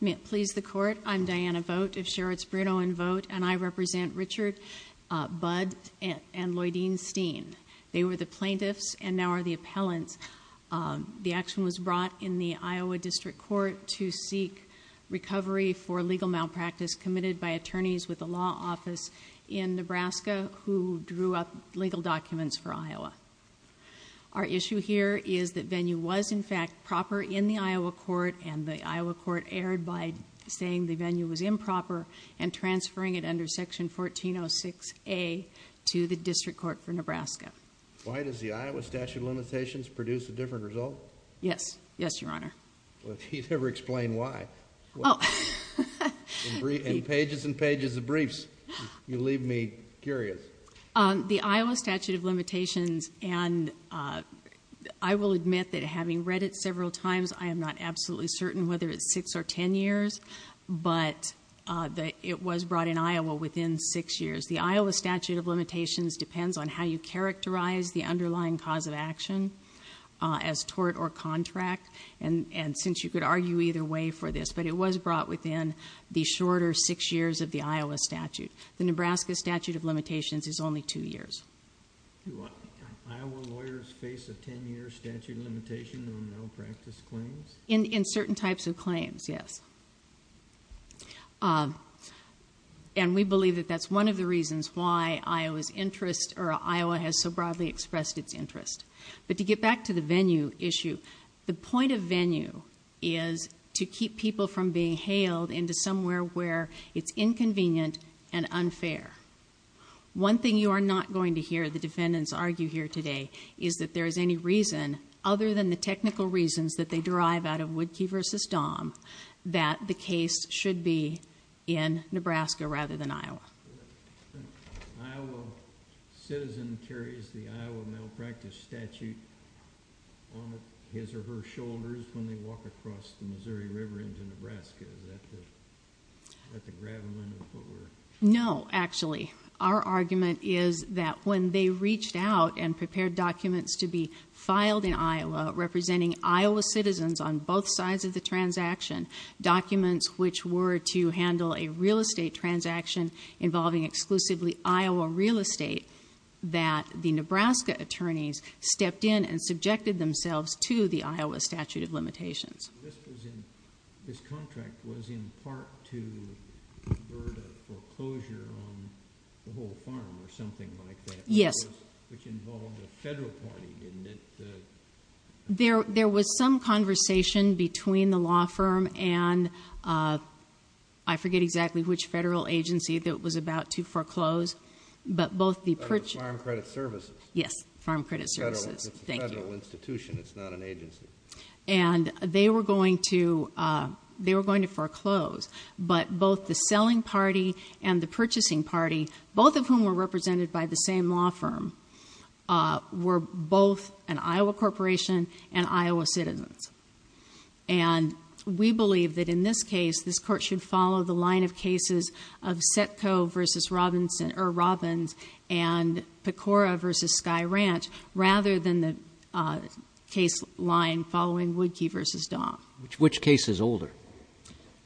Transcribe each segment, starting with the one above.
May it please the Court, I'm Diana Vogt of Sherrod's Bruno & Vogt, and I represent Richard Bud and Lloydine Steen. They were the plaintiffs and now are the appellants. The action was brought in the Iowa District Court to seek recovery for legal malpractice committed by attorneys with the law office in Nebraska who drew up legal documents for Iowa. Our issue here is that venue was in fact proper in the Iowa court and the Iowa court erred by saying the venue was improper and transferring it under Section 1406A to the District Court for Nebraska. Why does the Iowa statute of limitations produce a different result? Yes. Yes, Your Honor. Well, if you'd ever explain why. Oh. In pages and pages of briefs, you leave me curious. The Iowa statute of limitations, and I will admit that having read it several times, I am not absolutely certain whether it's six or ten years, but it was brought in Iowa within six years. The Iowa statute of limitations depends on how you characterize the underlying cause of action as tort or contract, and since you could argue either way for this, but it was brought within the shorter six years of the Iowa statute. The Nebraska statute of limitations is only two years. Do Iowa lawyers face a ten-year statute of limitation on malpractice claims? In certain types of claims, yes. And we believe that that's one of the reasons why Iowa's interest, or Iowa has so broadly expressed its interest. But to get back to the venue issue, the point of venue is to keep people from being hailed into somewhere where it's inconvenient and unfair. One thing you are not going to hear the defendants argue here today is that there is any reason, other than the technical reasons that they derive out of Woodkey v. Dahm, that the case should be in Nebraska rather than Iowa. The Iowa citizen carries the Iowa malpractice statute on his or her shoulders when they walk across the Missouri River into Nebraska, is that to grab them under the footwear? No, actually. Our argument is that when they reached out and prepared documents to be filed in Iowa representing Iowa citizens on both sides of the transaction, documents which were to handle a real estate transaction involving exclusively Iowa real estate, that the Nebraska attorneys stepped in and subjected themselves to the Iowa statute of limitations. This contract was in part to avert a foreclosure on the whole farm or something like that? Yes. Which involved a federal party, didn't it? There was some conversation between the law firm and I forget exactly which federal agency that was about to foreclose, but both the purchase... Farm Credit Services. Yes, Farm Credit Services. It's a federal institution, it's not an agency. And they were going to foreclose. But both the selling party and the purchasing party, both of whom were represented by the same law firm, were both an Iowa corporation and Iowa citizens. And we believe that in this case, this court should follow the line of cases of Setco v. Robbins and Pecora v. Sky Ranch, rather than the case line following Woodkey v. Dom. Which case is older?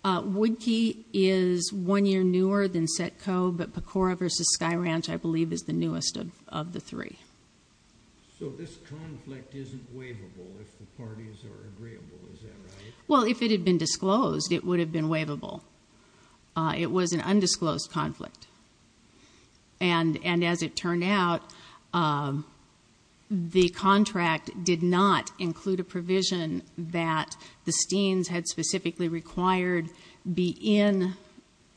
Woodkey is one year newer than Setco, but Pecora v. Sky Ranch, I believe, is the newest of the three. So this conflict isn't waivable if the parties are agreeable, is that right? Well, if it had been disclosed, it would have been waivable. It was an undisclosed conflict. And as it turned out, the contract did not include a provision that the Steens had specifically required be in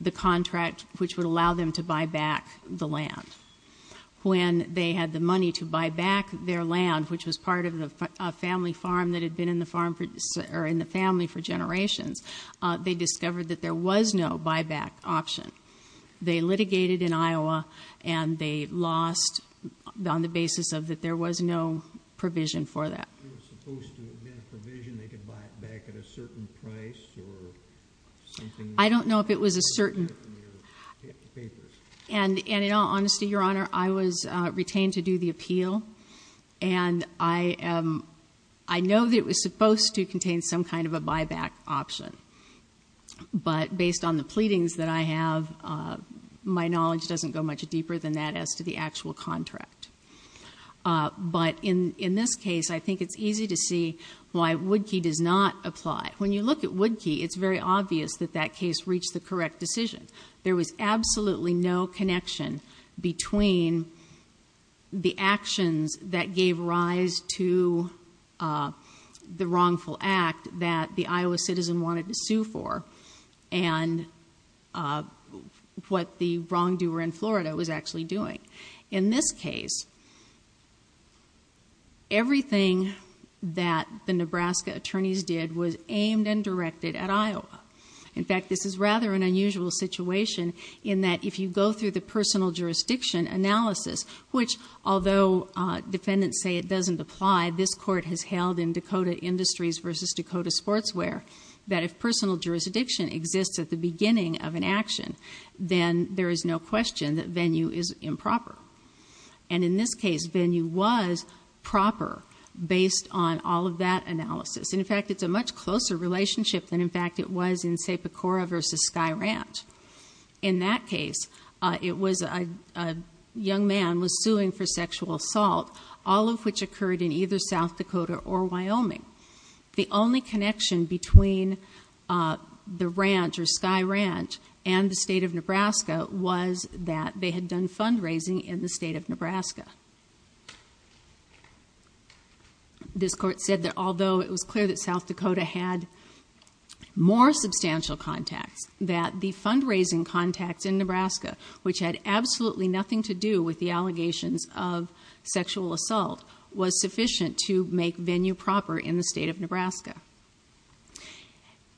the contract which would allow them to buy back the land. When they had the money to buy back their land, which was part of a family farm that had been in the family for generations, they discovered that there was no buyback option. They litigated in Iowa, and they lost on the basis of that there was no provision for that. If there was supposed to have been a provision, they could buy it back at a certain price or something? I don't know if it was a certain. And in all honesty, Your Honor, I was retained to do the appeal, and I know that it was supposed to contain some kind of a buyback option. But based on the pleadings that I have, my knowledge doesn't go much deeper than that as to the actual contract. But in this case, I think it's easy to see why Woodkey does not apply. When you look at Woodkey, it's very obvious that that case reached the correct decision. There was absolutely no connection between the actions that gave rise to the wrongful act that the Iowa citizen wanted to sue for and what the wrongdoer in Florida was actually doing. In this case, everything that the Nebraska attorneys did was aimed and directed at Iowa. In fact, this is rather an unusual situation in that if you go through the personal jurisdiction analysis, which although defendants say it doesn't apply, this Court has held in Dakota Industries v. Dakota Sportswear, that if personal jurisdiction exists at the beginning of an action, then there is no question that venue is improper. And in this case, venue was proper based on all of that analysis. And in fact, it's a much closer relationship than, in fact, it was in, say, Pecora v. Sky Ranch. In that case, a young man was suing for sexual assault, all of which occurred in either South Dakota or Wyoming. The only connection between the ranch or Sky Ranch and the state of Nebraska was that they had done fundraising in the state of Nebraska. This Court said that although it was clear that South Dakota had more substantial contacts, that the fundraising contacts in Nebraska, which had absolutely nothing to do with the allegations of sexual assault, was sufficient to make venue proper in the state of Nebraska.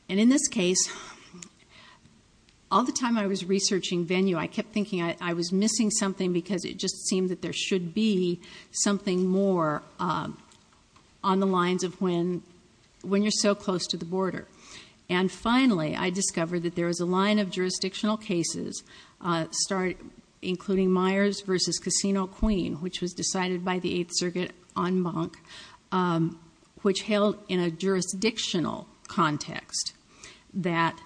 And in this case, all the time I was researching venue, I kept thinking I was missing something because it just seemed that there should be something more on the lines of when you're so close to the border. And finally, I discovered that there was a line of jurisdictional cases, including Myers v. Casino Queen, which was decided by the Eighth Circuit en banc, which held in a jurisdictional context that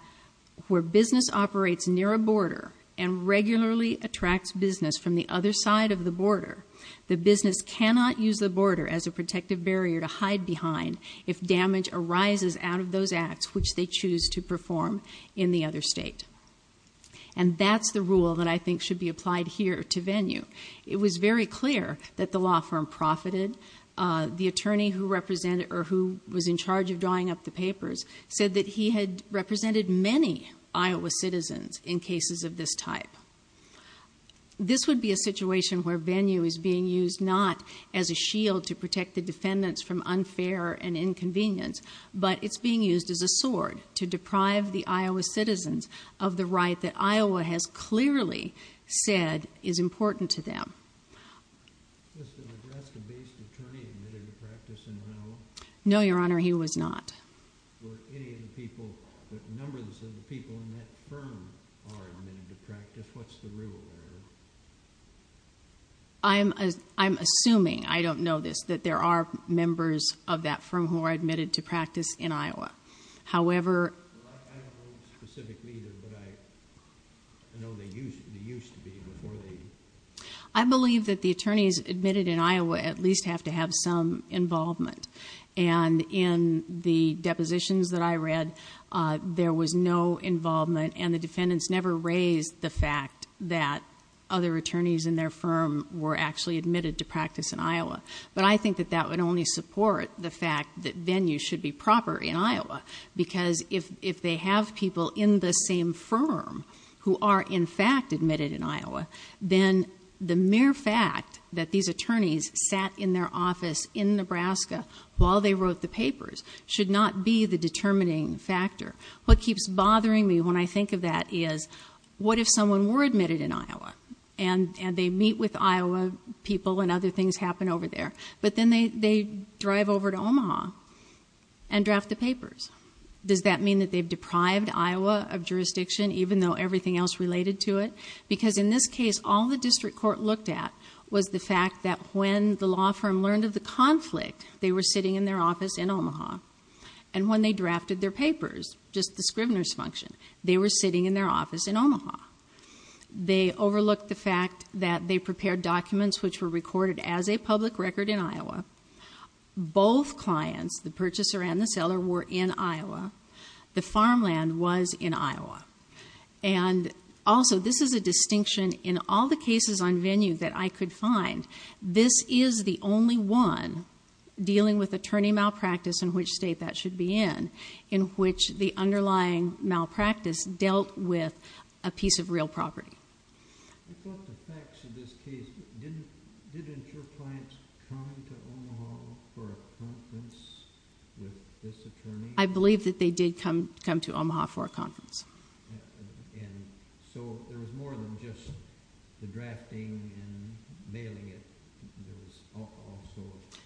where business operates near a border and regularly attracts business from the other side of the border, the business cannot use the border as a protective barrier to hide behind if damage arises out of those acts which they choose to perform in the other state. And that's the rule that I think should be applied here to venue. It was very clear that the law firm profited. The attorney who represented or who was in charge of drawing up the papers said that he had represented many Iowa citizens in cases of this type. This would be a situation where venue is being used not as a shield to protect the defendants from unfair and inconvenience, but it's being used as a sword to deprive the Iowa citizens of the right that Iowa has clearly said is important to them. No, Your Honor, he was not. What's the rule there? I'm assuming, I don't know this, that there are members of that firm who are admitted to practice in Iowa. However... I don't know specifically either, but I know they used to be before they... I believe that the attorneys admitted in Iowa at least have to have some involvement. And in the depositions that I read, there was no involvement and the defendants never raised the fact that other attorneys in their firm were actually admitted to practice in Iowa. But I think that that would only support the fact that venue should be proper in Iowa because if they have people in the same firm who are in fact admitted in Iowa, then the mere fact that these attorneys sat in their office in Nebraska while they wrote the papers should not be the determining factor. What keeps bothering me when I think of that is what if someone were admitted in Iowa and they meet with Iowa people and other things happen over there, but then they drive over to Omaha and draft the papers. Does that mean that they've deprived Iowa of jurisdiction even though everything else related to it? Because in this case, all the district court looked at was the fact that when the law firm learned of the conflict, they were sitting in their office in Omaha. And when they drafted their papers, just the scrivener's function, they were sitting in their office in Omaha. They overlooked the fact that they prepared documents which were recorded as a public record in Iowa. Both clients, the purchaser and the seller, were in Iowa. The farmland was in Iowa. And also, this is a distinction in all the cases on venue that I could find. This is the only one dealing with attorney malpractice in which state that should be in, in which the underlying malpractice dealt with a piece of real property. I thought the facts of this case, didn't your clients come to Omaha for a conference with this attorney? I believe that they did come to Omaha for a conference. And so there was more than just the drafting and mailing it. There was all sorts.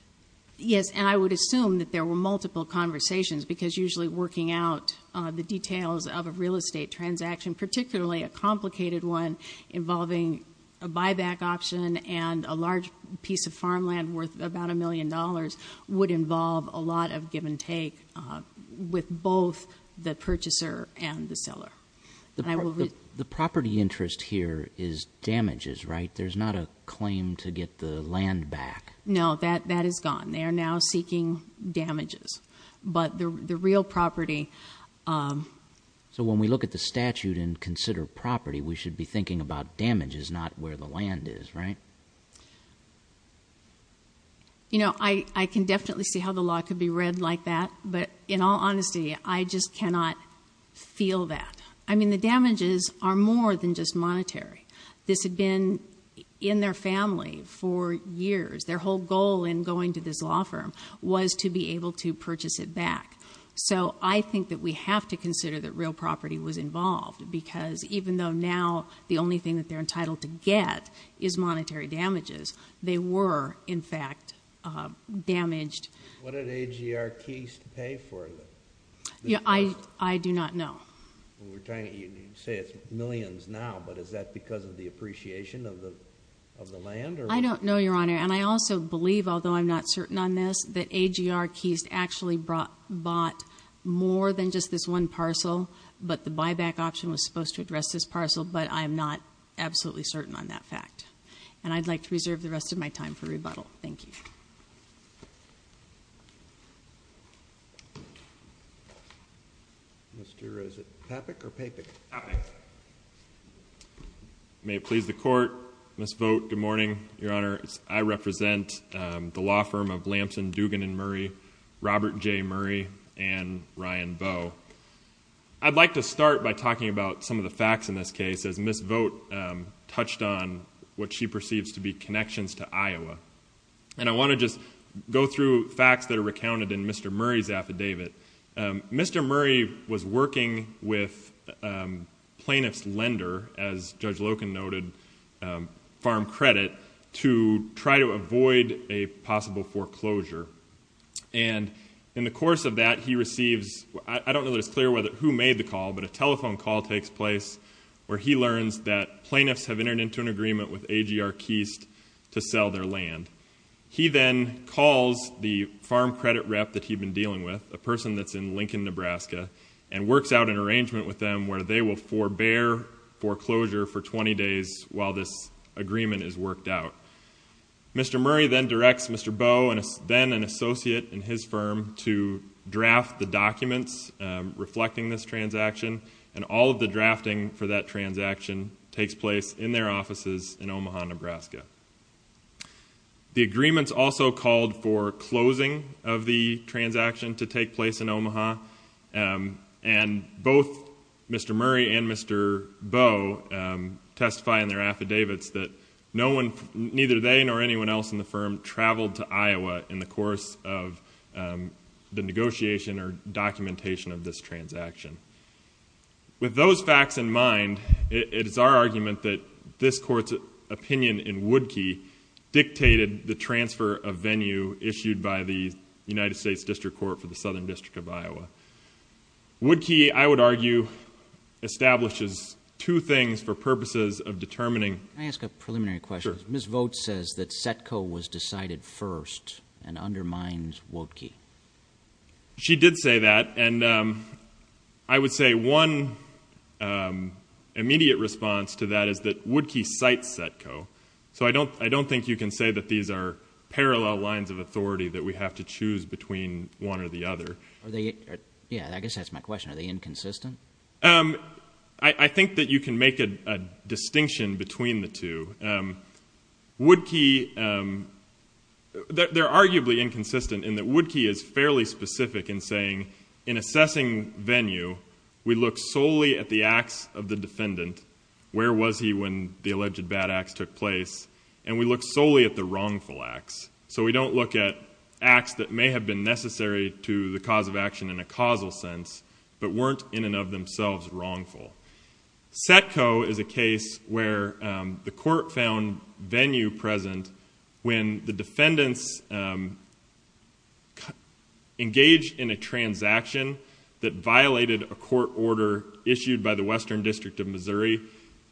Yes, and I would assume that there were multiple conversations because usually working out the details of a real estate transaction, particularly a complicated one involving a buyback option and a large piece of farmland worth about a million dollars, would involve a lot of give and take with both the purchaser and the seller. The property interest here is damages, right? There's not a claim to get the land back. No, that is gone. They are now seeking damages. But the real property... So when we look at the statute and consider property, we should be thinking about damages, not where the land is, right? You know, I can definitely see how the law could be read like that, but in all honesty, I just cannot feel that. I mean, the damages are more than just monetary. This had been in their family for years. Their whole goal in going to this law firm was to be able to purchase it back. So I think that we have to consider that real property was involved because even though now the only thing that they're entitled to get is monetary damages, they were in fact damaged. What did AGR Keyst pay for it? I do not know. You say it's millions now, but is that because of the appreciation of the land? I don't know, Your Honor. And I also believe, although I'm not certain on this, that AGR Keyst actually bought more than just this one parcel, but the buyback option was supposed to address this parcel, but I'm not absolutely certain on that fact. And I'd like to reserve the rest of my time for rebuttal. Thank you. Mr. is it Papick or Papick? Papick. May it please the Court, Ms. Vogt, good morning, Your Honor. I represent the law firm of Lamson, Dugan & Murray, Robert J. Murray, and Ryan Vo. I'd like to start by talking about some of the facts in this case as Ms. Vogt touched on what she perceives to be connections to Iowa. And I want to just go through facts that are recounted in Mr. Murray's affidavit. Mr. Murray was working with plaintiff's lender, as Judge Loken noted, Farm Credit, to try to avoid a possible foreclosure. And in the course of that, he receives, I don't know that it's clear who made the call, but a telephone call takes place where he learns that plaintiffs have entered into an agreement with AGR Keyst to sell their land. He then calls the Farm Credit rep that he'd been dealing with, a person that's in Lincoln, Nebraska, and works out an arrangement with them where they will forbear foreclosure for 20 days while this agreement is worked out. Mr. Murray then directs Mr. Boe, then an associate in his firm, to draft the documents reflecting this transaction, and all of the drafting for that transaction takes place in their offices in Omaha, Nebraska. The agreements also called for closing of the transaction to take place in Omaha, and both Mr. Murray and Mr. Boe testify in their affidavits that no one, neither they nor anyone else in the firm, traveled to Iowa in the course of the negotiation or documentation of this transaction. With those facts in mind, it is our argument that this court's opinion in Woodkey dictated the transfer of venue issued by the United States District Court for the Southern District of Iowa. Woodkey, I would argue, establishes two things for purposes of determining. Can I ask a preliminary question? Sure. Ms. Vogt says that Setco was decided first and undermines Woodkey. She did say that, and I would say one immediate response to that is that Woodkey cites Setco. So I don't think you can say that these are parallel lines of authority that we have to choose between one or the other. Yeah, I guess that's my question. Are they inconsistent? I think that you can make a distinction between the two. Woodkey, they're arguably inconsistent in that Woodkey is fairly specific in saying, in assessing venue, we look solely at the acts of the defendant, where was he when the alleged bad acts took place, and we look solely at the wrongful acts. So we don't look at acts that may have been necessary to the cause of action in a causal sense but weren't in and of themselves wrongful. Setco is a case where the court found venue present when the defendants engaged in a transaction that violated a court order issued by the Western District of Missouri.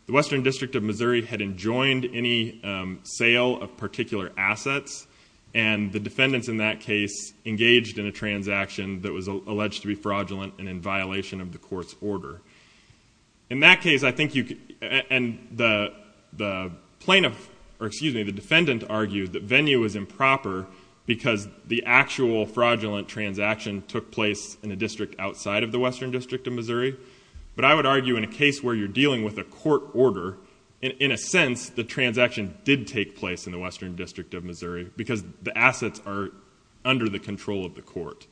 The Western District of Missouri had enjoined any sale of particular assets, and the defendants in that case engaged in a transaction that was alleged to be fraudulent and in violation of the court's order. In that case, I think you could, and the plaintiff, or excuse me, the defendant, argued that venue was improper because the actual fraudulent transaction took place in a district outside of the Western District of Missouri. But I would argue in a case where you're dealing with a court order, in a sense the transaction did take place in the Western District of Missouri because the assets are under the control of the court.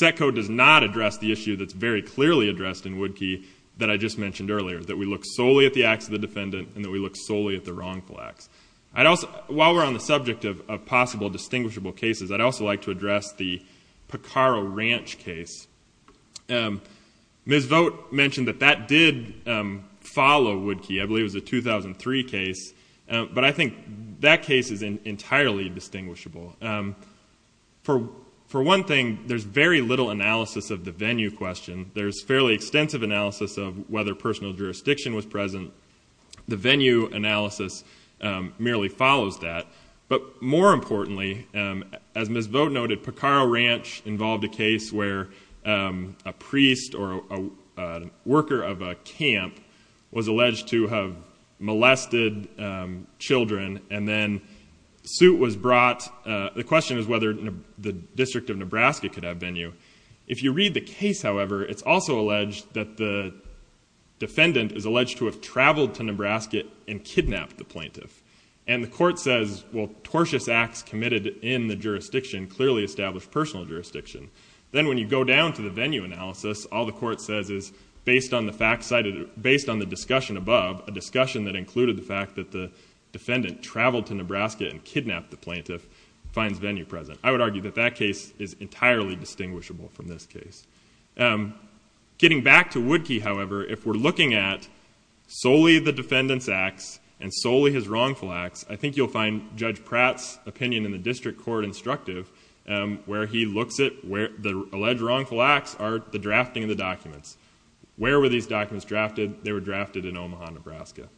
Setco does not address the issue that's very clearly addressed in Woodkey that I just mentioned earlier, that we look solely at the acts of the defendant and that we look solely at the wrongful acts. While we're on the subject of possible distinguishable cases, I'd also like to address the Picaro Ranch case. Ms. Vogt mentioned that that did follow Woodkey. I believe it was a 2003 case. But I think that case is entirely distinguishable. For one thing, there's very little analysis of the venue question. There's fairly extensive analysis of whether personal jurisdiction was present. The venue analysis merely follows that. But more importantly, as Ms. Vogt noted, the Picaro Ranch involved a case where a priest or a worker of a camp was alleged to have molested children. And then the question is whether the District of Nebraska could have venue. If you read the case, however, it's also alleged that the defendant is alleged to have traveled to Nebraska and kidnapped the plaintiff. And the court says, well, tortuous acts committed in the jurisdiction clearly establish personal jurisdiction. Then when you go down to the venue analysis, all the court says is based on the discussion above, a discussion that included the fact that the defendant traveled to Nebraska and kidnapped the plaintiff, finds venue present. I would argue that that case is entirely distinguishable from this case. Getting back to Woodkey, however, if we're looking at solely the defendant's acts and solely his wrongful acts, I think you'll find Judge Pratt's opinion in the district court instructive where he looks at the alleged wrongful acts are the drafting of the documents. Where were these documents drafted? They were drafted in Omaha, Nebraska.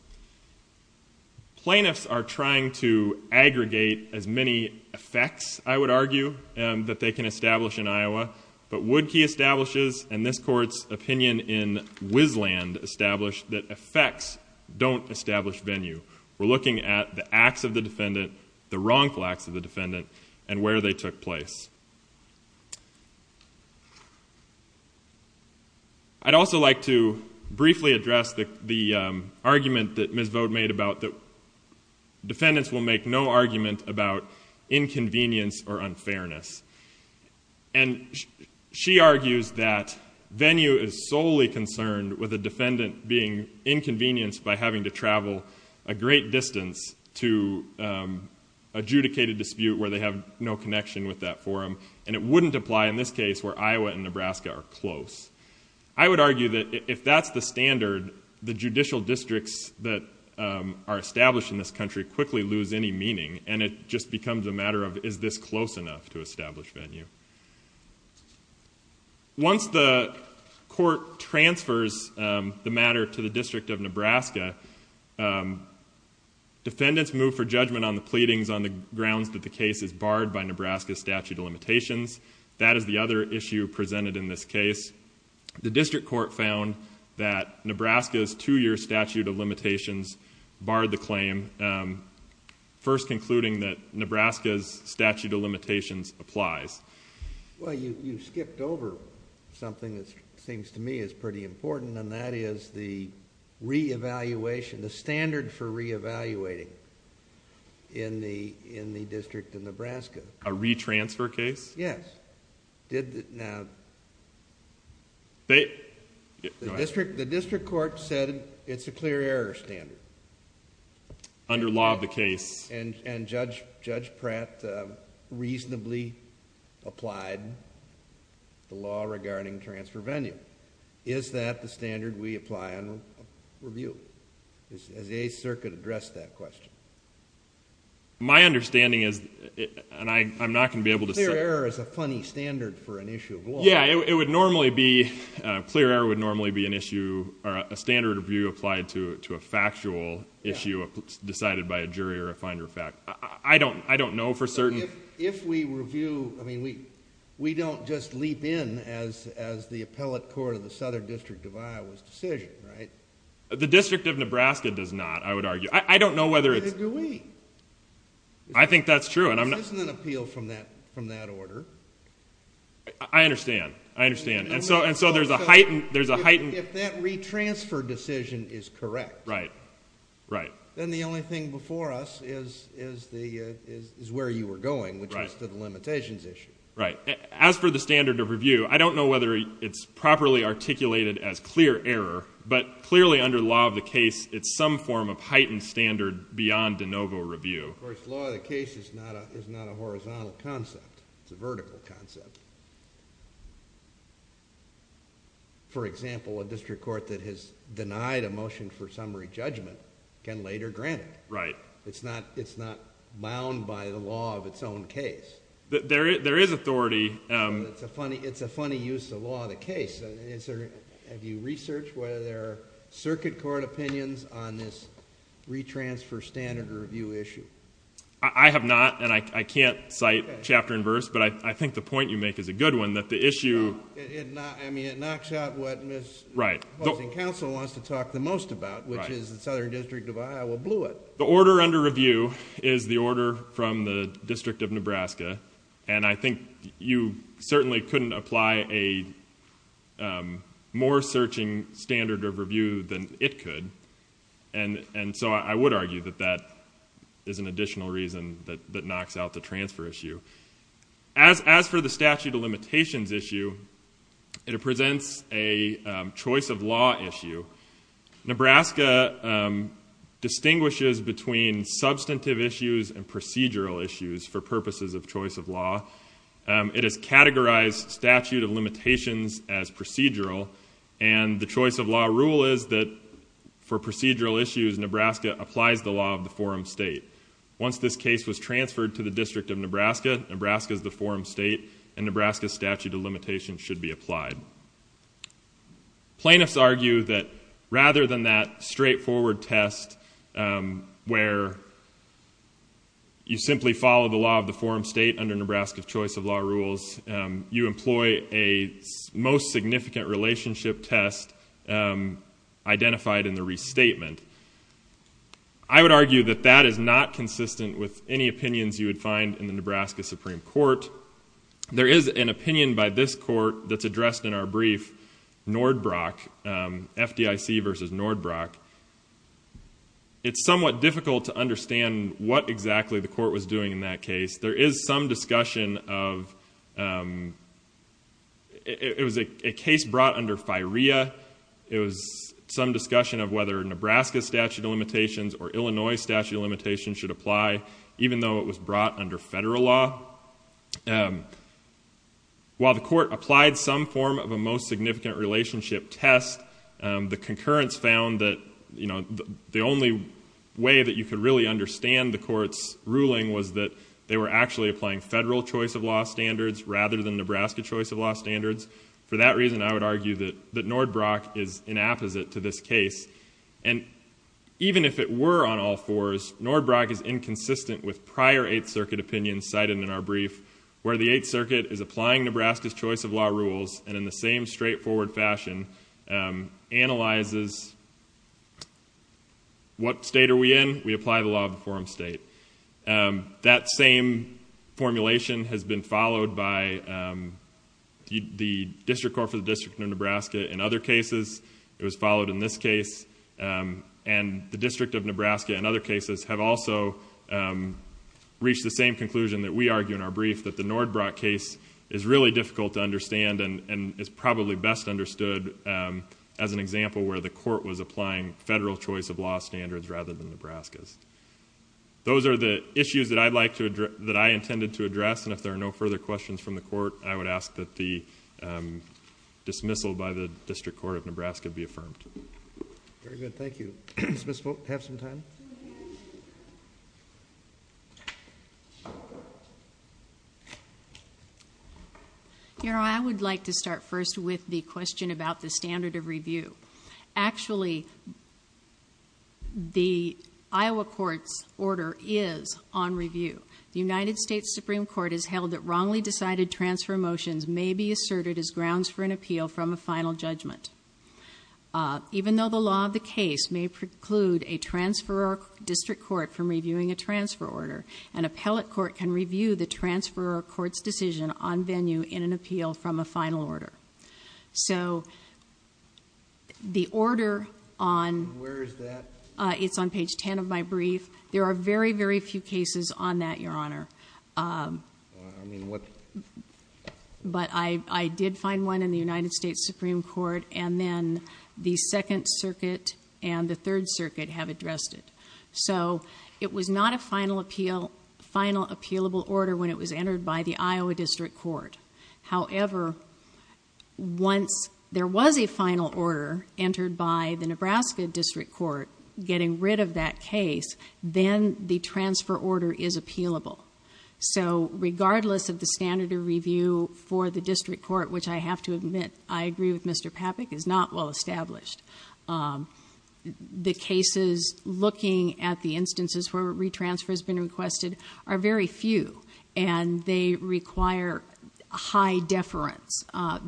Plaintiffs are trying to aggregate as many effects, I would argue, that they can establish in Iowa. But Woodkey establishes, and this court's opinion in Wisland established, that effects don't establish venue. We're looking at the acts of the defendant, the wrongful acts of the defendant, and where they took place. I'd also like to briefly address the argument that Ms. Vogue made about that defendants will make no argument about inconvenience or unfairness. And she argues that venue is solely concerned with a defendant being inconvenienced by having to travel a great distance to adjudicate a dispute where they have no connection with that forum. And it wouldn't apply in this case where Iowa and Nebraska are close. I would argue that if that's the standard, the judicial districts that are established in this country quickly lose any meaning, and it just becomes a matter of is this close enough to establish venue. Once the court transfers the matter to the District of Nebraska, defendants move for judgment on the pleadings on the grounds that the case is barred by Nebraska's statute of limitations. That is the other issue presented in this case. The District Court found that Nebraska's two-year statute of limitations barred the claim, first concluding that Nebraska's statute of limitations applies. Well, you skipped over something that seems to me is pretty important, and that is the standard for re-evaluating in the District of Nebraska. A re-transfer case? Yes. Now, the District Court said it's a clear error standard. Under law of the case. And Judge Pratt reasonably applied the law regarding transfer venue. Is that the standard we apply on review? Has the 8th Circuit addressed that question? My understanding is, and I'm not going to be able to say. Clear error is a funny standard for an issue of law. Yeah, it would normally be, clear error would normally be an issue, a standard review applied to a factual issue decided by a jury or a finder of fact. I don't know for certain. If we review, I mean, we don't just leap in as the appellate court of the Southern District of Iowa's decision, right? The District of Nebraska does not, I would argue. I don't know whether it's. Neither do we. I think that's true. This isn't an appeal from that order. I understand, I understand. And so there's a heightened. If that retransfer decision is correct. Right, right. Then the only thing before us is where you were going, which is to the limitations issue. Right. As for the standard of review, I don't know whether it's properly articulated as clear error. But clearly under law of the case, it's some form of heightened standard beyond de novo review. Of course, law of the case is not a horizontal concept. It's a vertical concept. For example, a district court that has denied a motion for summary judgment can later grant it. Right. It's not bound by the law of its own case. There is authority. It's a funny use of law of the case. Have you researched whether there are circuit court opinions on this retransfer standard of review issue? I have not, and I can't cite chapter and verse. But I think the point you make is a good one, that the issue. No, I mean, it knocks out what Ms. Poston-Council wants to talk the most about, which is the Southern District of Iowa blew it. The order under review is the order from the District of Nebraska. And I think you certainly couldn't apply a more searching standard of review than it could. And so I would argue that that is an additional reason that knocks out the transfer issue. As for the statute of limitations issue, it presents a choice of law issue. Nebraska distinguishes between substantive issues and procedural issues for purposes of choice of law. It has categorized statute of limitations as procedural, and the choice of law rule is that for procedural issues, Nebraska applies the law of the forum state. Once this case was transferred to the District of Nebraska, Nebraska is the forum state, and Nebraska's statute of limitations should be applied. Plaintiffs argue that rather than that straightforward test where you simply follow the law of the forum state under Nebraska's choice of law rules, you employ a most significant relationship test identified in the restatement. I would argue that that is not consistent with any opinions you would find in the Nebraska Supreme Court. There is an opinion by this court that's addressed in our brief, FDIC versus Nordbrock. It's somewhat difficult to understand what exactly the court was doing in that case. There is some discussion of... It was a case brought under FIREA. It was some discussion of whether Nebraska's statute of limitations or Illinois' statute of limitations should apply, even though it was brought under federal law. While the court applied some form of a most significant relationship test, the concurrence found that the only way that you could really understand the court's ruling was that they were actually applying federal choice of law standards rather than Nebraska choice of law standards. For that reason, I would argue that Nordbrock is inapposite to this case. And even if it were on all fours, Nordbrock is inconsistent with prior Eighth Circuit opinions cited in our brief, where the Eighth Circuit is applying Nebraska's choice of law rules and in the same straightforward fashion analyzes what state are we in. We apply the law of the forum state. That same formulation has been followed by the District Court for the District of Nebraska in other cases. It was followed in this case. And the District of Nebraska in other cases have also reached the same conclusion that we argue in our brief, that the Nordbrock case is really difficult to understand and is probably best understood as an example where the court was applying federal choice of law standards rather than Nebraska's. Those are the issues that I intended to address, and if there are no further questions from the court, I would ask that the dismissal by the District Court of Nebraska be affirmed. Very good. Thank you. Ms. Boak, do you have some time? Your Honor, I would like to start first with the question about the standard of review. Actually, the Iowa court's order is on review. The United States Supreme Court has held that wrongly decided transfer motions may be asserted as grounds for an appeal from a final judgment. Even though the law of the case may preclude a transferor district court from reviewing a transfer order, an appellate court can review the transferor court's decision on venue in an appeal from a final order. So the order on... Where is that? It's on page 10 of my brief. There are very, very few cases on that, Your Honor. I mean, what... But I did find one in the United States Supreme Court, and then the Second Circuit and the Third Circuit have addressed it. So it was not a final appealable order when it was entered by the Iowa District Court. However, once there was a final order entered by the Nebraska District Court getting rid of that case, then the transfer order is appealable. So regardless of the standard of review for the district court, which I have to admit, I agree with Mr. Papich, is not well established, the cases looking at the instances where retransfer has been requested are very few, and they require high deference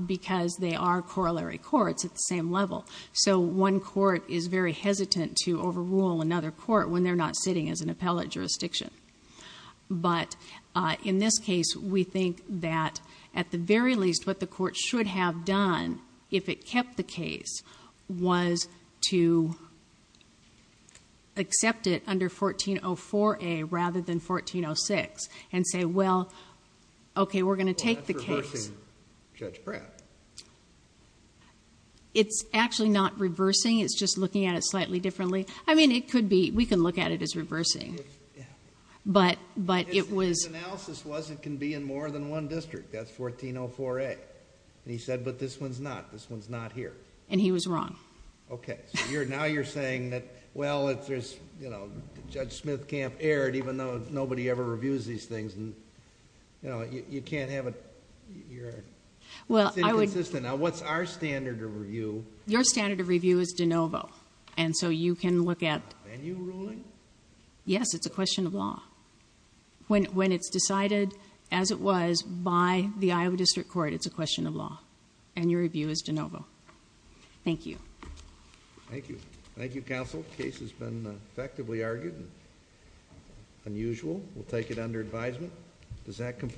because they are corollary courts at the same level. So one court is very hesitant to overrule another court when they're not sitting as an appellate jurisdiction. But in this case, we think that at the very least, what the court should have done if it kept the case was to accept it under 1404A rather than 1406 and say, well, okay, we're going to take the case. Well, that's reversing Judge Pratt. It's actually not reversing. It's just looking at it slightly differently. I mean, we can look at it as reversing. But it was... His analysis was it can be in more than one district. That's 1404A. He said, but this one's not. This one's not here. And he was wrong. Okay. Now you're saying that, well, Judge Smithkamp erred even though nobody ever reviews these things. You can't have... It's inconsistent. Now, what's our standard of review? Your standard of review is de novo. And so you can look at... Venue ruling? Yes. It's a question of law. When it's decided as it was by the Iowa District Court, it's a question of law. And your review is de novo. Thank you. Thank you. Thank you, counsel. The case has been effectively argued. Unusual. We'll take it under advisement. Does that complete...